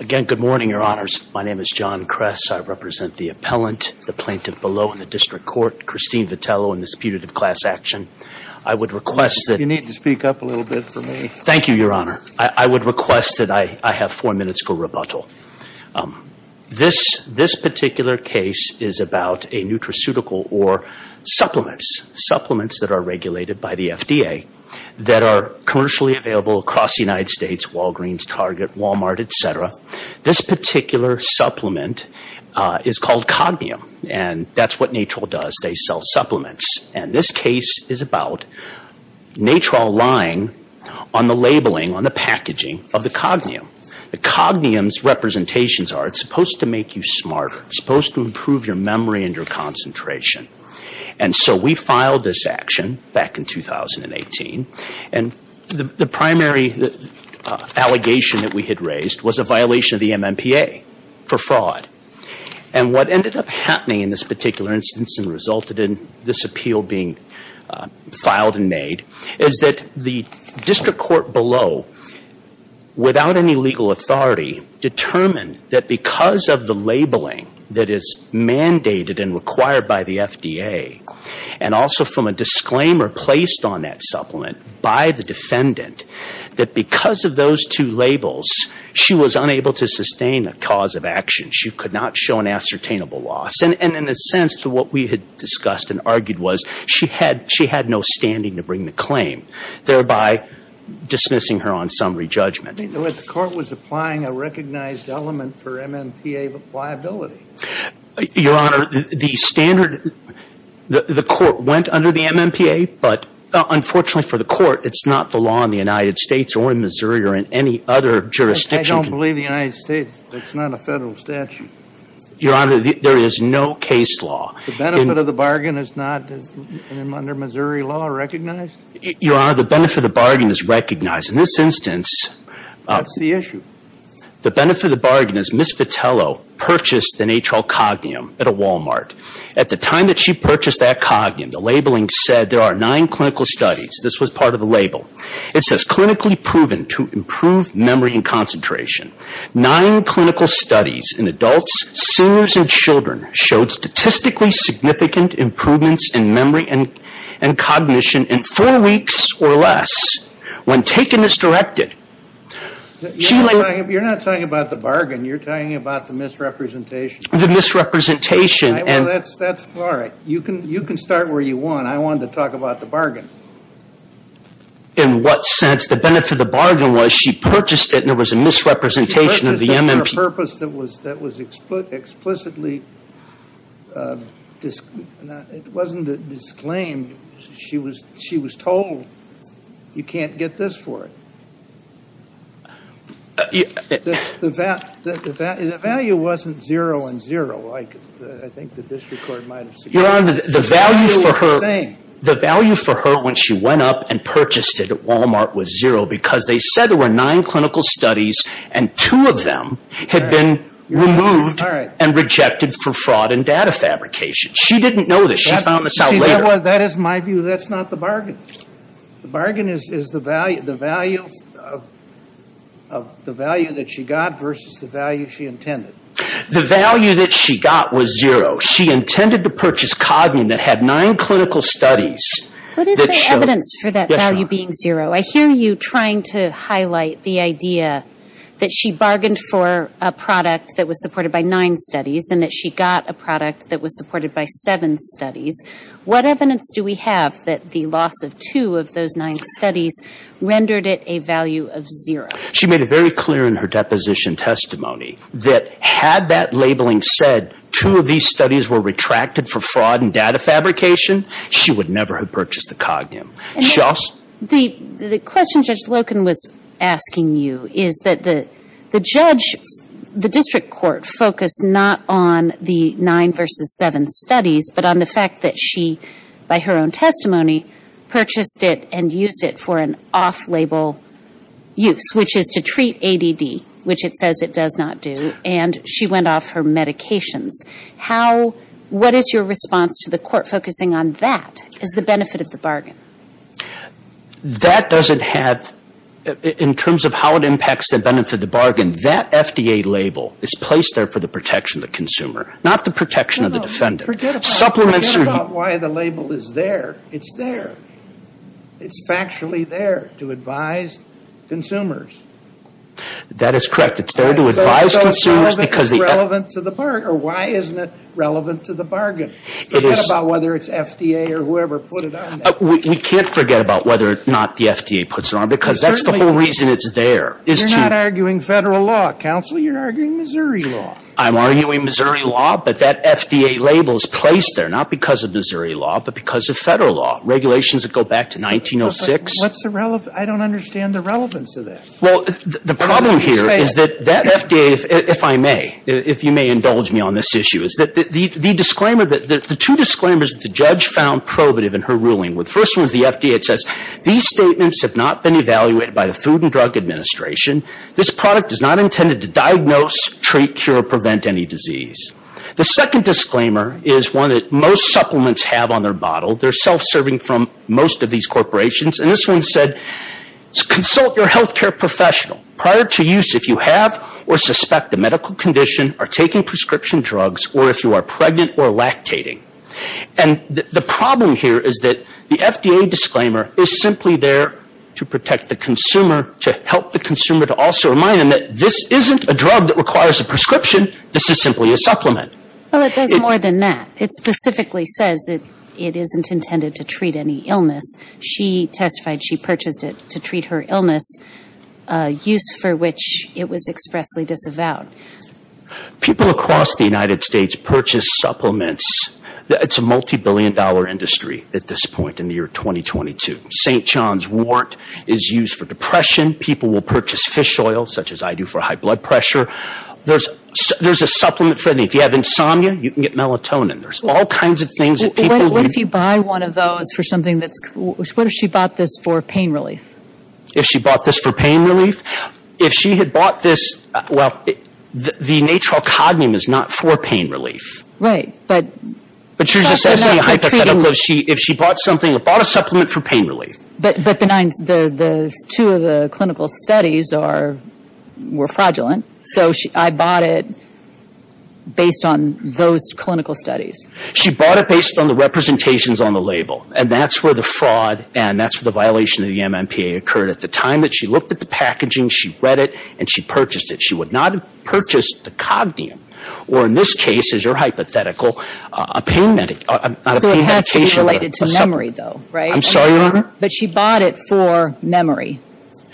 Again, good morning, your honors. My name is John Kress. I represent the appellant, the plaintiff below in the district court, Christine Vitello, in this putative class action. I would request that you need to speak up a little bit for me. Thank you, your honor. I would request that I have four minutes for rebuttal. This particular case is about a supplement that are regulated by the FDA that are commercially available across the United States, Walgreens, Target, Walmart, etc. This particular supplement is called Cognium and that's what Natrol does. They sell supplements. And this case is about Natrol lying on the labeling, on the packaging of the Cognium. The Cognium's representations are it's supposed to make you smarter. It's supposed to improve your memory and your concentration. And so we filed this action back in 2018 and the primary allegation that we had raised was a violation of the MMPA for fraud. And what ended up happening in this particular instance and resulted in this appeal being filed and made is that the district court below, without any legal authority, determined that because of the labeling that is mandated and required by the FDA, and also from a disclaimer placed on that supplement by the defendant, that because of those two labels, she was unable to sustain a cause of action. She could not show an ascertainable loss. And in a sense to what we had discussed and argued was she had no standing to bring the claim, thereby dismissing her on summary judgment. In other words, the court was applying a recognized element for MMPA liability. Your Honor, the standard, the court went under the MMPA, but unfortunately for the court, it's not the law in the United States or in Missouri or in any other jurisdiction. I don't believe the United States. It's not a federal statute. Your Honor, there is no case law. The benefit of the bargain is not under Missouri law recognized? Your Honor, the benefit of the bargain is recognized. In this instance. What's the issue? The benefit of the bargain is Ms. Vitello purchased the natrile cognium at a Walmart. At the time that she purchased that cognium, the labeling said there are nine clinical studies. This was part of the label. It says, clinically proven to improve memory and concentration. Nine clinical studies in adults, seniors and children showed statistically significant improvements in memory and cognition in four weeks or less when taken as directed. You're not talking about the bargain. You're talking about the misrepresentation. The misrepresentation. That's all right. You can start where you want. I wanted to talk about the bargain. In what sense? The benefit of the bargain was she purchased it and there was a misrepresentation of the MMPA. She purchased it for a purpose that was explicitly, it wasn't disclaimed. She was told, you can't get this for it. The value wasn't zero and zero. I think the district court might have suggested. Your Honor, the value for her when she went up and purchased it at Walmart was zero because they said there were nine clinical studies and two of them had been removed and rejected for fraud and data fabrication. She didn't know this. She found this out later. That is my view. That's not the bargain. The bargain is the value that she got versus the value she intended. The value that she got was zero. She intended to purchase Cognin that had nine clinical studies. What is the evidence for that value being zero? I hear you trying to highlight the idea that she bargained for a product that was supported by nine studies and that she got a product that was supported by seven studies. What evidence do we have that the loss of two of those nine studies rendered it a value of zero? She made it very clear in her deposition testimony that had that labeling said two of these studies were retracted for fraud and data fabrication, she would never have purchased the Cognin. The question Judge Loken was asking you is that the judge, the district court, focused not on the nine versus seven studies, but on the fact that she, by her own testimony, purchased it and used it for an off-label use, which is to treat ADD, which it says it does not do, and she went off her medications. What is your response to the court focusing on that as the benefit of the bargain? That doesn't have, in terms of how it impacts the benefit of the bargain, that FDA label is placed there for the protection of the consumer, not the protection of the defendant. Forget about why the label is there. It's there. It's factually there to advise consumers. That is correct. It's there to advise consumers. So why isn't it relevant to the bargain? Forget about whether it's FDA or whoever put it on there. We can't forget about whether or not the FDA puts it on there, because that's the whole reason it's there. You're not arguing Federal law, counsel. You're arguing Missouri law. I'm arguing Missouri law, but that FDA label is placed there, not because of Missouri law, but because of Federal law, regulations that go back to 1906. What's the relevance? I don't understand the relevance of that. Well, the problem here is that that FDA, if I may, if you may indulge me on this issue, is that the disclaimer, the two disclaimers that the judge found probative in her ruling, the first one is the FDA. It says these statements have not been evaluated by the Food and Drug Administration. This product is not intended to diagnose, treat, cure, prevent any disease. The second disclaimer is one that most supplements have on their bottle. They're self-serving from most of these corporations. And this one said, consult your health care professional prior to use if you have or suspect a medical condition, are taking prescription drugs, or if you are pregnant or lactating. And the problem here is that the FDA disclaimer is simply there to protect the consumer, to help the consumer to also remind them that this isn't a drug that requires a prescription. This is simply a supplement. Well, it does more than that. It specifically says it isn't intended to treat any illness. She testified she purchased it to treat her illness, a use for which it was expressly disavowed. People across the United States purchase supplements. It's a multi-billion dollar industry at this point in the year 2022. St. John's wort is used for depression. People will purchase fish oil, such as I do, for high blood pressure. There's a supplement for anything. If you have insomnia, you can get melatonin. There's all kinds of things that people... What if you buy one of those for something that's... what if she bought this for pain relief? If she bought this for pain relief? If she had bought this... well, the natrile cognum is not for pain relief. Right, but... But she was just asking me hypothetically if she bought something... bought a supplement for pain relief. But the two of the clinical studies were fraudulent, so I bought it based on those clinical studies. She bought it based on the representations on the label, and that's where the fraud and that's where the violation of the MMPA occurred. At the time that she looked at the packaging, she read it, and she purchased it. She would not have purchased the cognum, or in this case, as your hypothetical, a pain medication... So it has to be related to memory, though, right? I'm sorry, Your Honor? But she bought it for memory.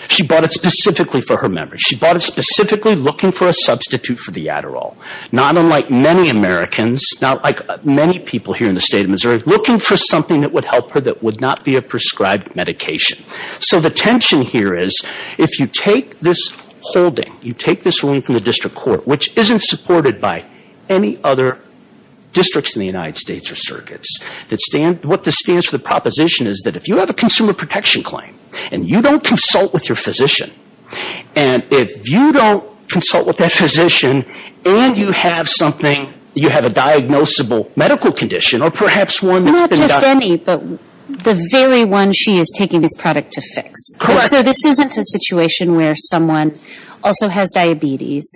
She bought it specifically for her memory. She bought it specifically looking for a substitute for the Adderall. Not unlike many Americans, not like many people here in the state of Missouri, looking for something that would help her that would not be a prescribed medication. So the tension here is if you take this holding, you take this ruling from the district court, which isn't supported by any other districts in the United States or circuits, what this stands for, the proposition is that if you have a consumer protection claim and you don't consult with your physician, and if you don't consult with that physician and you have something, you have a diagnosable medical condition or perhaps one... Not just any, but the very one she is taking this product to fix. Correct. So this isn't a situation where someone also has diabetes,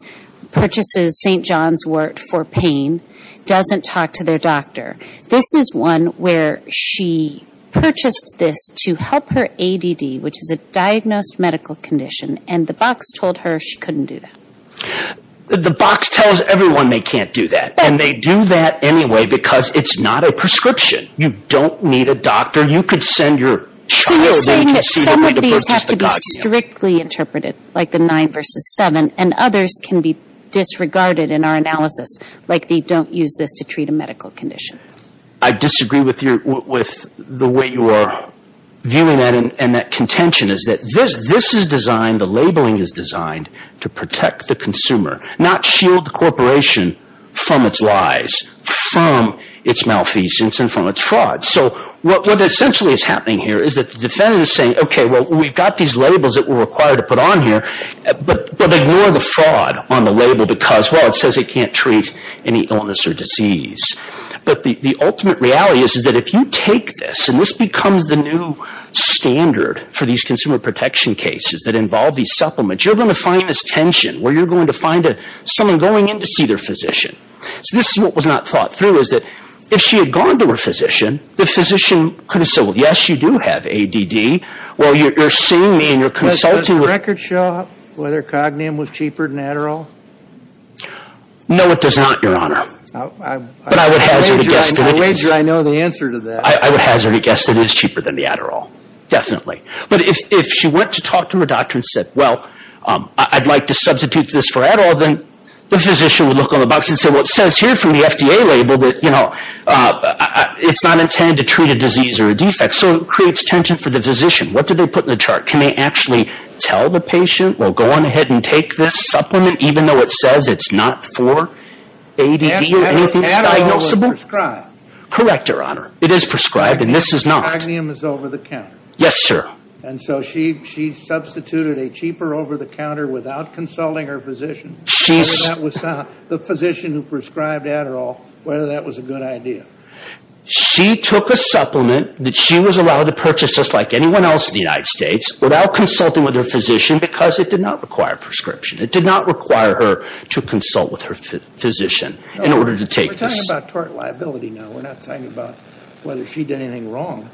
purchases St. John's Wort for pain, doesn't talk to their doctor. This is one where she purchased this to help her ADD, which is a diagnosed medical condition, and the box told her she couldn't do that. The box tells everyone they can't do that, and they do that anyway because it's not a prescription. You don't need a doctor. You could send your child... So you're saying that some of these have to be strictly interpreted, like the nine versus seven, and others can be disregarded in our analysis, like they don't use this to treat a medical condition. I disagree with the way you are viewing that, and that contention is that this is designed, the labeling is designed to protect the consumer, not shield the corporation from its lies, from its malfeasance, and from its fraud. So what essentially is happening here is that the defendant is saying, okay, well, we've got these labels that we're required to put on here, but ignore the fraud on the label because, well, it says it can't treat any illness or disease. But the ultimate reality is that if you take this, and this becomes the new standard for these consumer protection cases that involve these supplements, you're going to find this tension where you're going to find someone going in to see their physician. So this is what was not thought through, is that if she had gone to her physician, the physician could have said, well, yes, you do have ADD. Well, you're seeing me and you're consulting. Does the record show whether Cognium was cheaper than Adderall? No, it does not, Your Honor. But I would hazard a guess that it is. I wager I know the answer to that. I would hazard a guess that it is cheaper than the Adderall, definitely. But if she went to talk to her doctor and said, well, I'd like to substitute this for Adderall, then the physician would look on the box and say, well, it says here from the FDA label that, you know, it's not intended to treat a disease or a defect. So it creates tension for the physician. What do they put in the chart? Can they actually tell the patient, well, go on ahead and take this supplement, even though it says it's not for ADD or anything that's diagnosable? Adderall is prescribed. Correct, Your Honor. It is prescribed, and this is not. Cognium is over the counter. Yes, sir. And so she substituted a cheaper over-the-counter without consulting her physician, the physician who prescribed Adderall, whether that was a good idea. She took a supplement that she was allowed to purchase just like anyone else in the United States without consulting with her physician because it did not require a prescription. It did not require her to consult with her physician in order to take this. We're talking about tort liability now. We're not talking about whether she did anything wrong.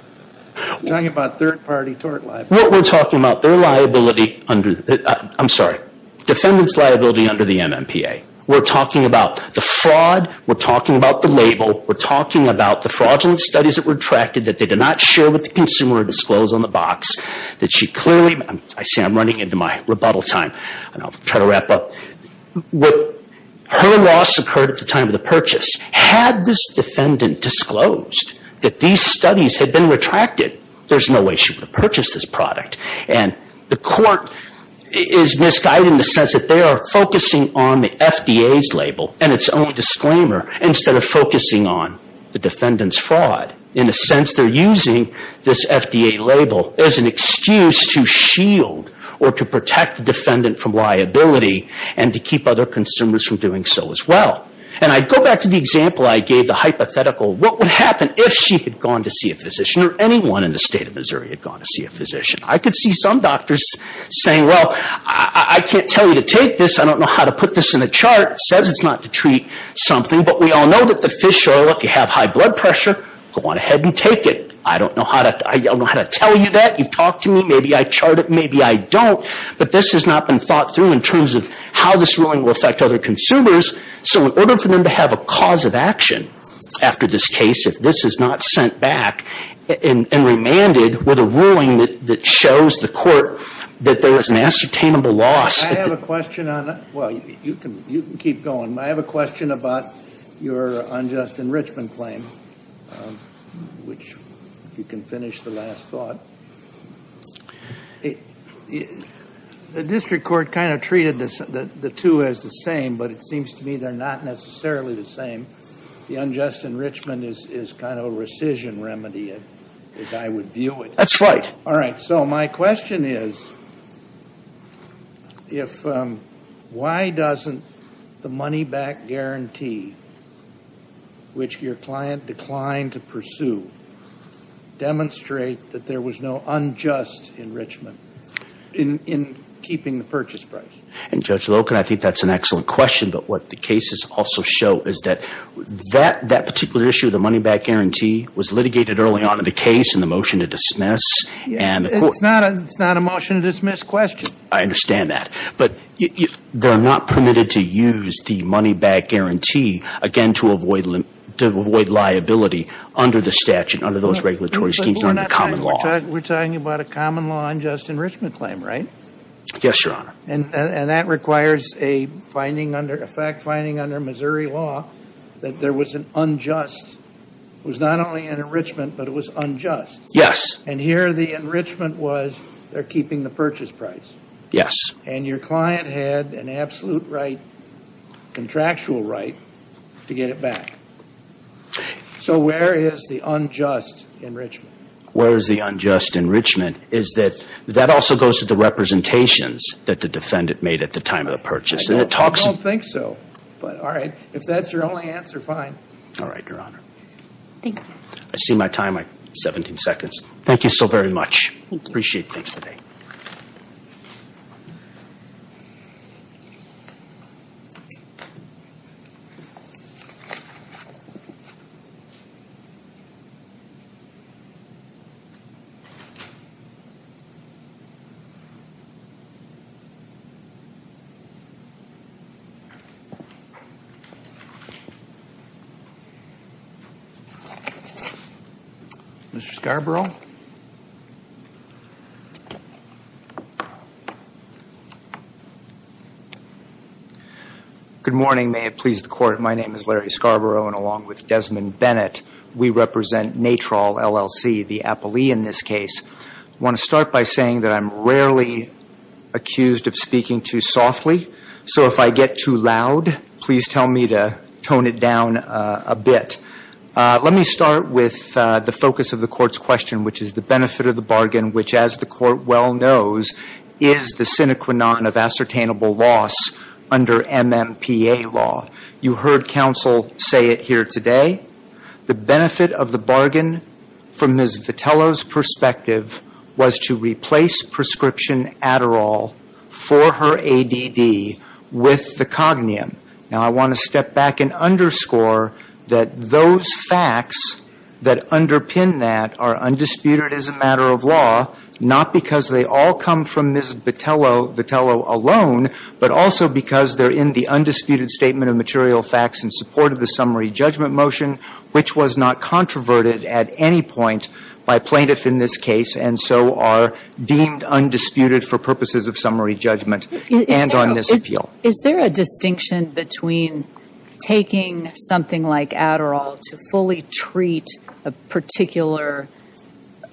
We're talking about third-party tort liability. What we're talking about, their liability under the ‑‑ I'm sorry, defendant's liability under the MMPA. We're talking about the fraud. We're talking about the label. We're talking about the fraudulent studies that were attracted, that they did not share with the consumer or disclose on the box, that she clearly ‑‑ I see I'm running into my rebuttal time, and I'll try to wrap up. Her loss occurred at the time of the purchase. Had this defendant disclosed that these studies had been retracted, there's no way she would have purchased this product. And the court is misguided in the sense that they are focusing on the FDA's label and its own disclaimer instead of focusing on the defendant's fraud. In a sense, they're using this FDA label as an excuse to shield or to protect the defendant from liability and to keep other consumers from doing so as well. And I go back to the example I gave, the hypothetical, what would happen if she had gone to see a physician or anyone in the state of Missouri had gone to see a physician? I could see some doctors saying, well, I can't tell you to take this. I don't know how to put this in a chart. It says it's not to treat something, but we all know that the fish oil, if you have high blood pressure, go on ahead and take it. I don't know how to tell you that. You've talked to me. Maybe I chart it. Maybe I don't. But this has not been thought through in terms of how this ruling will affect other consumers. So in order for them to have a cause of action after this case, if this is not sent back and remanded with a ruling that shows the court that there was an ascertainable loss. I have a question on that. Well, you can keep going. I have a question about your unjust enrichment claim, which if you can finish the last thought. The district court kind of treated the two as the same, but it seems to me they're not necessarily the same. The unjust enrichment is kind of a rescission remedy, as I would view it. That's right. All right. So my question is, why doesn't the money-back guarantee, which your client declined to pursue, demonstrate that there was no unjust enrichment in keeping the purchase price? And, Judge Loken, I think that's an excellent question. But what the cases also show is that that particular issue, the money-back guarantee, was litigated early on in the case in the motion to dismiss. It's not a motion to dismiss question. I understand that. But they're not permitted to use the money-back guarantee, again, to avoid liability under the statute, under those regulatory schemes, under the common law. We're talking about a common law unjust enrichment claim, right? Yes, Your Honor. And that requires a fact finding under Missouri law that there was an unjust. It was not only an enrichment, but it was unjust. Yes. And here the enrichment was they're keeping the purchase price. Yes. And your client had an absolute right, contractual right, to get it back. So where is the unjust enrichment? Where is the unjust enrichment? That also goes to the representations that the defendant made at the time of the purchase. I don't think so. But all right. If that's your only answer, fine. All right, Your Honor. Thank you. I see my time, my 17 seconds. Thank you so very much. Thank you. Appreciate things today. Mr. Scarborough? Good morning. May it please the Court. My name is Larry Scarborough. And along with Desmond Bennett, we represent NATROL LLC, the appellee in this case. I want to start by saying that I'm rarely accused of speaking too softly. So if I get too loud, please tell me to tone it down a bit. Let me start with the focus of the Court's question, which is the benefit of the bargain, which, as the Court well knows, is the sine qua non of ascertainable loss under MMPA law. You heard counsel say it here today. The benefit of the bargain, from Ms. Vitello's perspective, was to replace prescription Adderall for her ADD with the Cognium. Now, I want to step back and underscore that those facts that underpin that are undisputed as a matter of law, not because they all come from Ms. Vitello alone, but also because they're in the undisputed statement of material facts in support of the summary judgment motion, which was not controverted at any point by plaintiffs in this case, and so are deemed undisputed for purposes of summary judgment and on this appeal. Is there a distinction between taking something like Adderall to fully treat a particular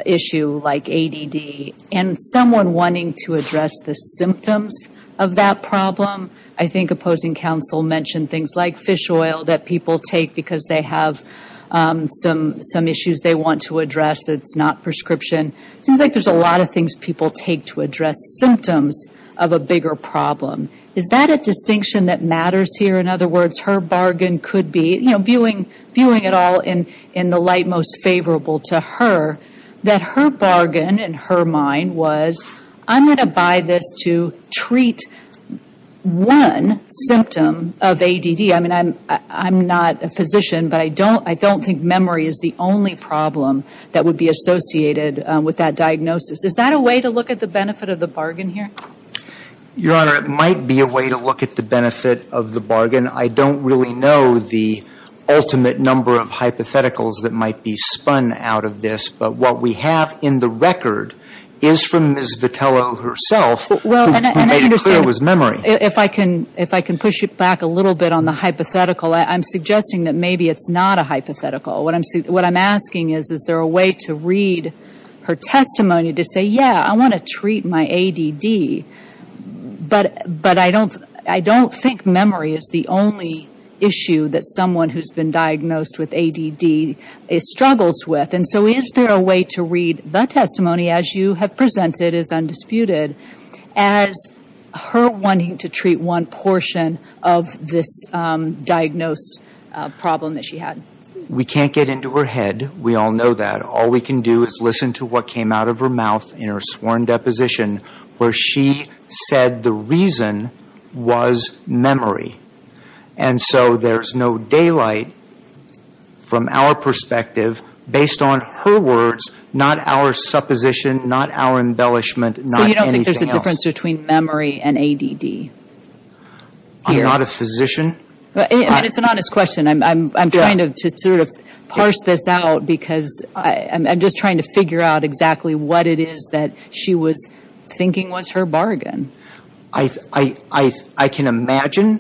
issue like ADD and someone wanting to address the symptoms of that problem? I think opposing counsel mentioned things like fish oil that people take because they have some issues they want to address that's not prescription. It seems like there's a lot of things people take to address symptoms of a bigger problem. Is that a distinction that matters here? In other words, her bargain could be, you know, viewing it all in the light most favorable to her, that her bargain in her mind was, I'm going to buy this to treat one symptom of ADD. I mean, I'm not a physician, but I don't think memory is the only problem that would be associated with that diagnosis. Is that a way to look at the benefit of the bargain here? Your Honor, it might be a way to look at the benefit of the bargain. I don't really know the ultimate number of hypotheticals that might be spun out of this, but what we have in the record is from Ms. Vitello herself who made it clear it was memory. If I can push it back a little bit on the hypothetical, I'm suggesting that maybe it's not a hypothetical. What I'm asking is, is there a way to read her testimony to say, yeah, I want to treat my ADD, but I don't think memory is the only issue that someone who's been diagnosed with ADD struggles with. And so is there a way to read the testimony, as you have presented as undisputed, as her wanting to treat one portion of this diagnosed problem that she had? We can't get into her head. We all know that. All we can do is listen to what came out of her mouth in her sworn deposition where she said the reason was memory. And so there's no daylight from our perspective based on her words, not our supposition, not our embellishment, not anything else. So you don't think there's a difference between memory and ADD? I'm not a physician. I mean, it's an honest question. I'm trying to sort of parse this out because I'm just trying to figure out exactly what it is that she was thinking was her bargain. I can imagine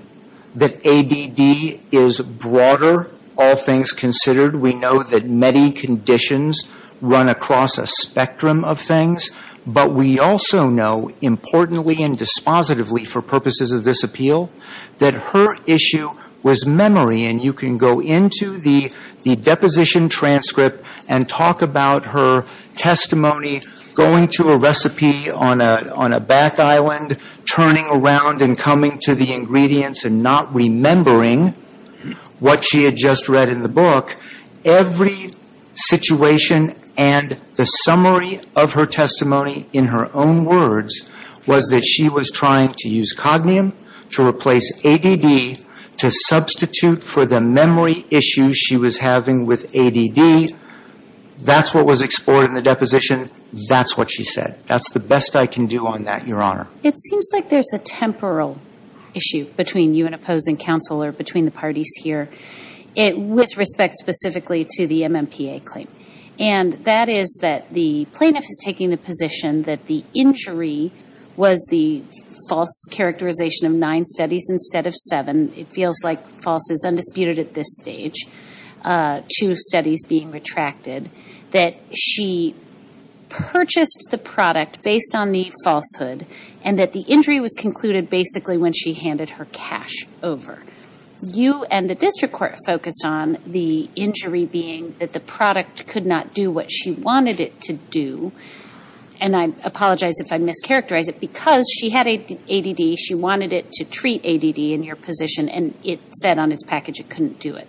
that ADD is broader, all things considered. We know that many conditions run across a spectrum of things. But we also know, importantly and dispositively for purposes of this appeal, that her issue was memory. And you can go into the deposition transcript and talk about her testimony going to a recipe on a back island, turning around and coming to the ingredients and not remembering what she had just read in the book. Every situation and the summary of her testimony in her own words was that she was trying to use cognium to replace ADD to substitute for the memory issues she was having with ADD. That's what was explored in the deposition. That's what she said. That's the best I can do on that, Your Honor. It seems like there's a temporal issue between you and opposing counsel or between the parties here. With respect specifically to the MMPA claim. And that is that the plaintiff is taking the position that the injury was the false characterization of nine studies instead of seven. It feels like false is undisputed at this stage. Two studies being retracted. That she purchased the product based on the falsehood and that the injury was concluded basically when she handed her cash over. You and the district court focused on the injury being that the product could not do what she wanted it to do. And I apologize if I mischaracterize it. Because she had ADD, she wanted it to treat ADD in her position. And it said on its package it couldn't do it.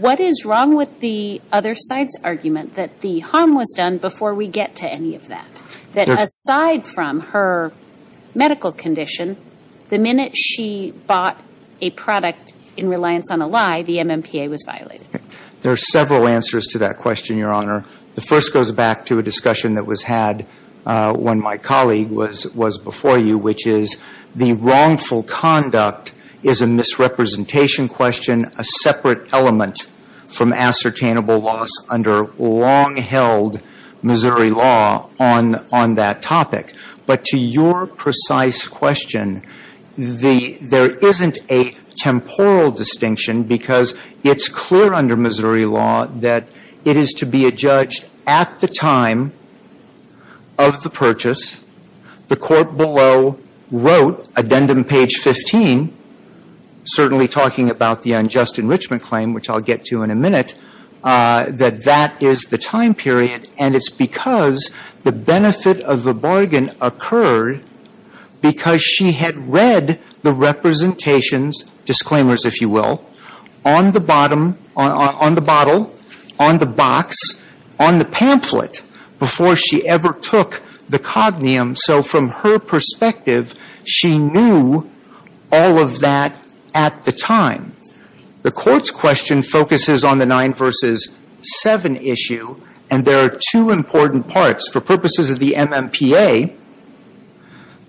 What is wrong with the other side's argument that the harm was done before we get to any of that? That aside from her medical condition, the minute she bought a product in reliance on a lie, the MMPA was violated. There are several answers to that question, Your Honor. The first goes back to a discussion that was had when my colleague was before you. Which is the wrongful conduct is a misrepresentation question, a separate element from ascertainable loss under long-held Missouri law on that topic. But to your precise question, there isn't a temporal distinction. Because it's clear under Missouri law that it is to be adjudged at the time of the purchase. The court below wrote, addendum page 15, certainly talking about the unjust enrichment claim, which I'll get to in a minute, that that is the time period. And it's because the benefit of the bargain occurred because she had read the representations, disclaimers, if you will, on the bottom, on the bottle, on the box, on the pamphlet, before she ever took the cognium. So from her perspective, she knew all of that at the time. The court's question focuses on the 9 verses 7 issue. And there are two important parts. For purposes of the MMPA,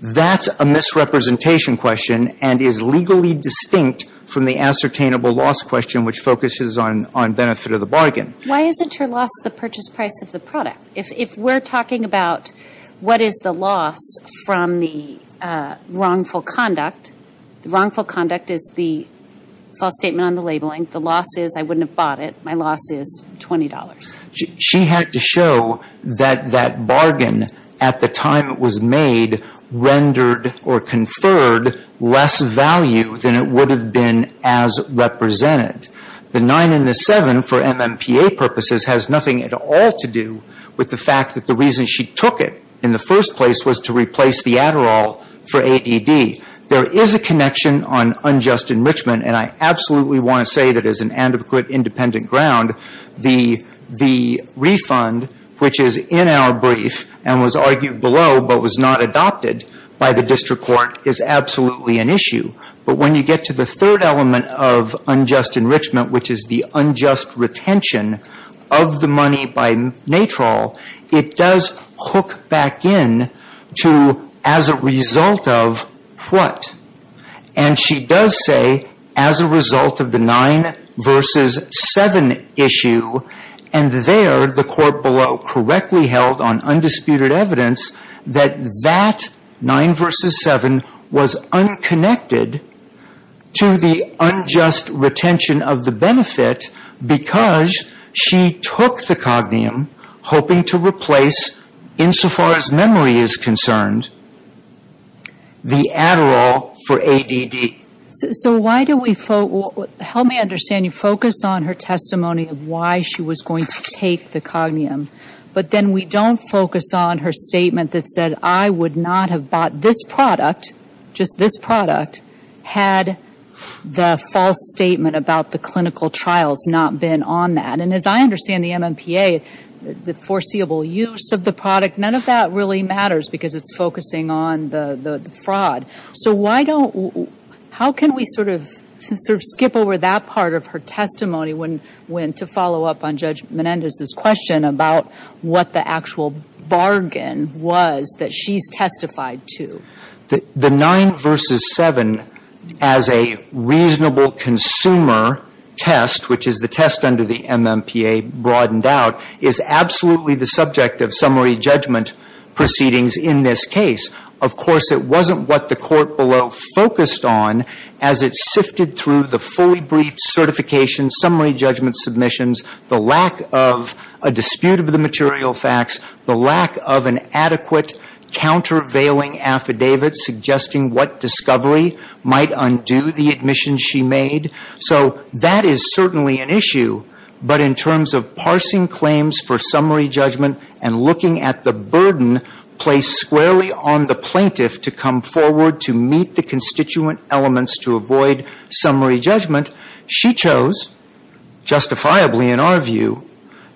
that's a misrepresentation question and is legally distinct from the ascertainable loss question, which focuses on benefit of the bargain. Why isn't her loss the purchase price of the product? If we're talking about what is the loss from the wrongful conduct, wrongful conduct is the false statement on the labeling. The loss is I wouldn't have bought it. My loss is $20. She had to show that that bargain at the time it was made rendered or conferred less value than it would have been as represented. The 9 and the 7 for MMPA purposes has nothing at all to do with the fact that the reason she took it in the first place was to replace the Adderall for ADD. There is a connection on unjust enrichment. And I absolutely want to say that as an adequate independent ground, the refund, which is in our brief and was argued below but was not adopted by the district court, is absolutely an issue. But when you get to the third element of unjust enrichment, which is the unjust retention of the money by NATROL, it does hook back in to as a result of what? And she does say as a result of the 9 versus 7 issue. And there the court below correctly held on undisputed evidence that that 9 versus 7 was unconnected to the unjust retention of the benefit because she took the Cognium hoping to replace insofar as memory is concerned. The Adderall for ADD. So why do we focus? Help me understand. You focus on her testimony of why she was going to take the Cognium. But then we don't focus on her statement that said, I would not have bought this product, just this product, had the false statement about the clinical trials not been on that. And as I understand the MMPA, the foreseeable use of the product, none of that really matters because it's focusing on the fraud. So why don't, how can we sort of skip over that part of her testimony when to follow up on Judge Menendez's question about what the actual bargain was that she's testified to? The 9 versus 7 as a reasonable consumer test, which is the test under the MMPA broadened out, is absolutely the subject of summary judgment proceedings in this case. Of course, it wasn't what the court below focused on as it sifted through the fully briefed certification summary judgment submissions, the lack of a dispute of the material facts, the lack of an adequate countervailing affidavit suggesting what discovery might undo the admission she made. So that is certainly an issue. But in terms of parsing claims for summary judgment and looking at the burden placed squarely on the plaintiff to come forward to meet the constituent elements to avoid summary judgment, she chose, justifiably in our view,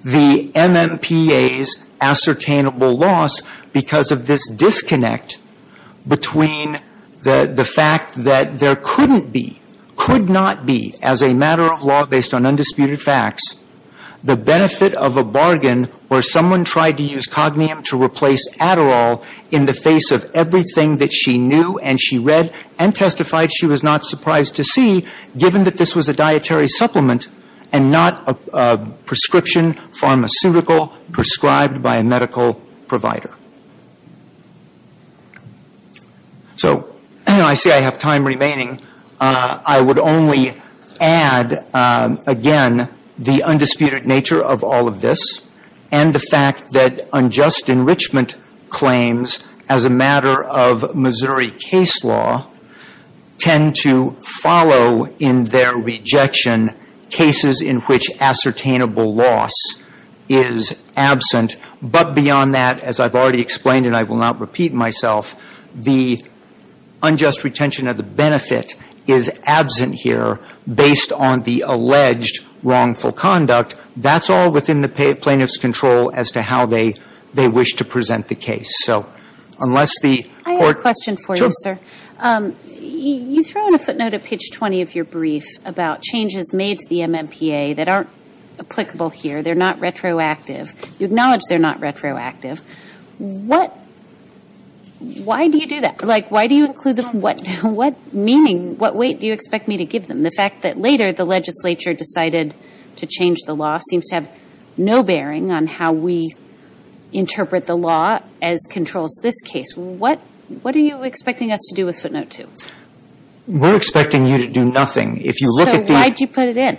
the MMPA's ascertainable loss because of this disconnect between the fact that there couldn't be, could not be as a matter of law based on undisputed facts, the benefit of a bargain where someone tried to use Cognium to replace Adderall in the face of everything that she knew and she read and testified she was not surprised to see, given that this was a dietary supplement and not a prescription pharmaceutical prescribed by a medical provider. So I see I have time remaining. I would only add, again, the undisputed nature of all of this and the fact that unjust enrichment claims as a matter of Missouri case law tend to follow in their rejection cases in which ascertainable loss is absent. But beyond that, as I've already explained and I will not repeat myself, the unjust retention of the benefit is absent here based on the alleged wrongful conduct. That's all within the plaintiff's control as to how they wish to present the case. So unless the court ‑‑ I have a question for you, sir. Sure. You throw in a footnote at page 20 of your brief about changes made to the MMPA that aren't applicable here. They're not retroactive. You acknowledge they're not retroactive. What ‑‑ why do you do that? Like, why do you include them? What meaning, what weight do you expect me to give them? The fact that later the legislature decided to change the law seems to have no bearing on how we interpret the law as controls this case. What are you expecting us to do with footnote two? We're expecting you to do nothing. So why did you put it in?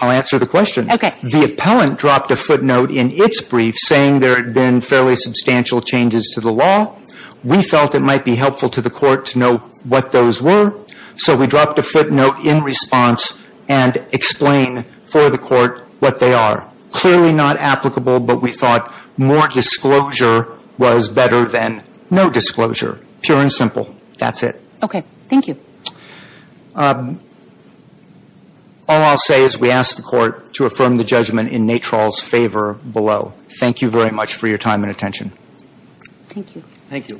I'll answer the question. Okay. The appellant dropped a footnote in its brief saying there had been fairly substantial changes to the law. We felt it might be helpful to the court to know what those were. So we dropped a footnote in response and explain for the court what they are. Clearly not applicable, but we thought more disclosure was better than no disclosure. Pure and simple. That's it. Okay. Thank you. All I'll say is we ask the court to affirm the judgment in Nate Troll's favor below. Thank you very much for your time and attention. Thank you. Thank you.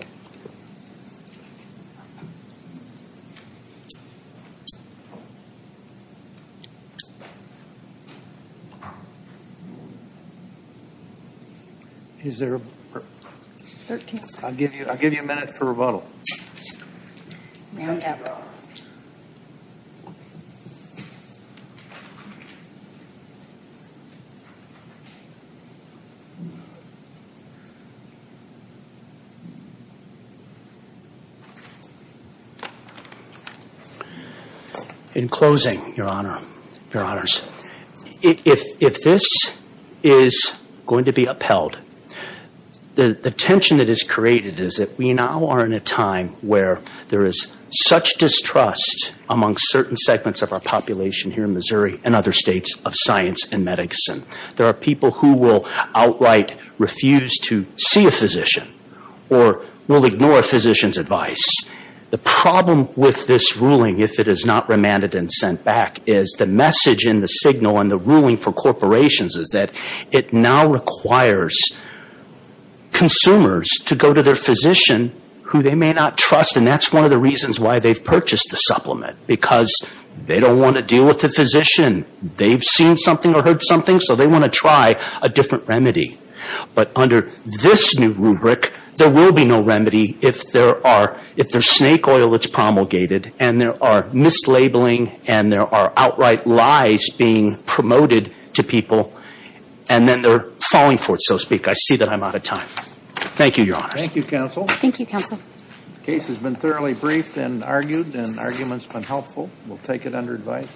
Is there a ‑‑ I'll give you a minute for rebuttal. May I have a rebuttal? In closing, your honor, your honors, if this is going to be upheld, the tension that is created is that we now are in a time where there is such distrust among certain segments of our population here in Missouri and other states of science and medicine. There are people who will outright refuse to see a physician or will ignore a physician's advice. The problem with this ruling, if it is not remanded and sent back, is the message in the signal in the ruling for corporations is that it now requires consumers to go to their physician who they may not trust, and that's one of the reasons why they've purchased the supplement. Because they don't want to deal with the physician. They've seen something or heard something, so they want to try a different remedy. But under this new rubric, there will be no remedy if there's snake oil that's promulgated and there are mislabeling and there are outright lies being promoted to people and then they're falling for it, so to speak. I see that I'm out of time. Thank you, your honors. Thank you, counsel. Thank you, counsel. The case has been thoroughly briefed and argued, and the argument's been helpful. We'll take it under advice.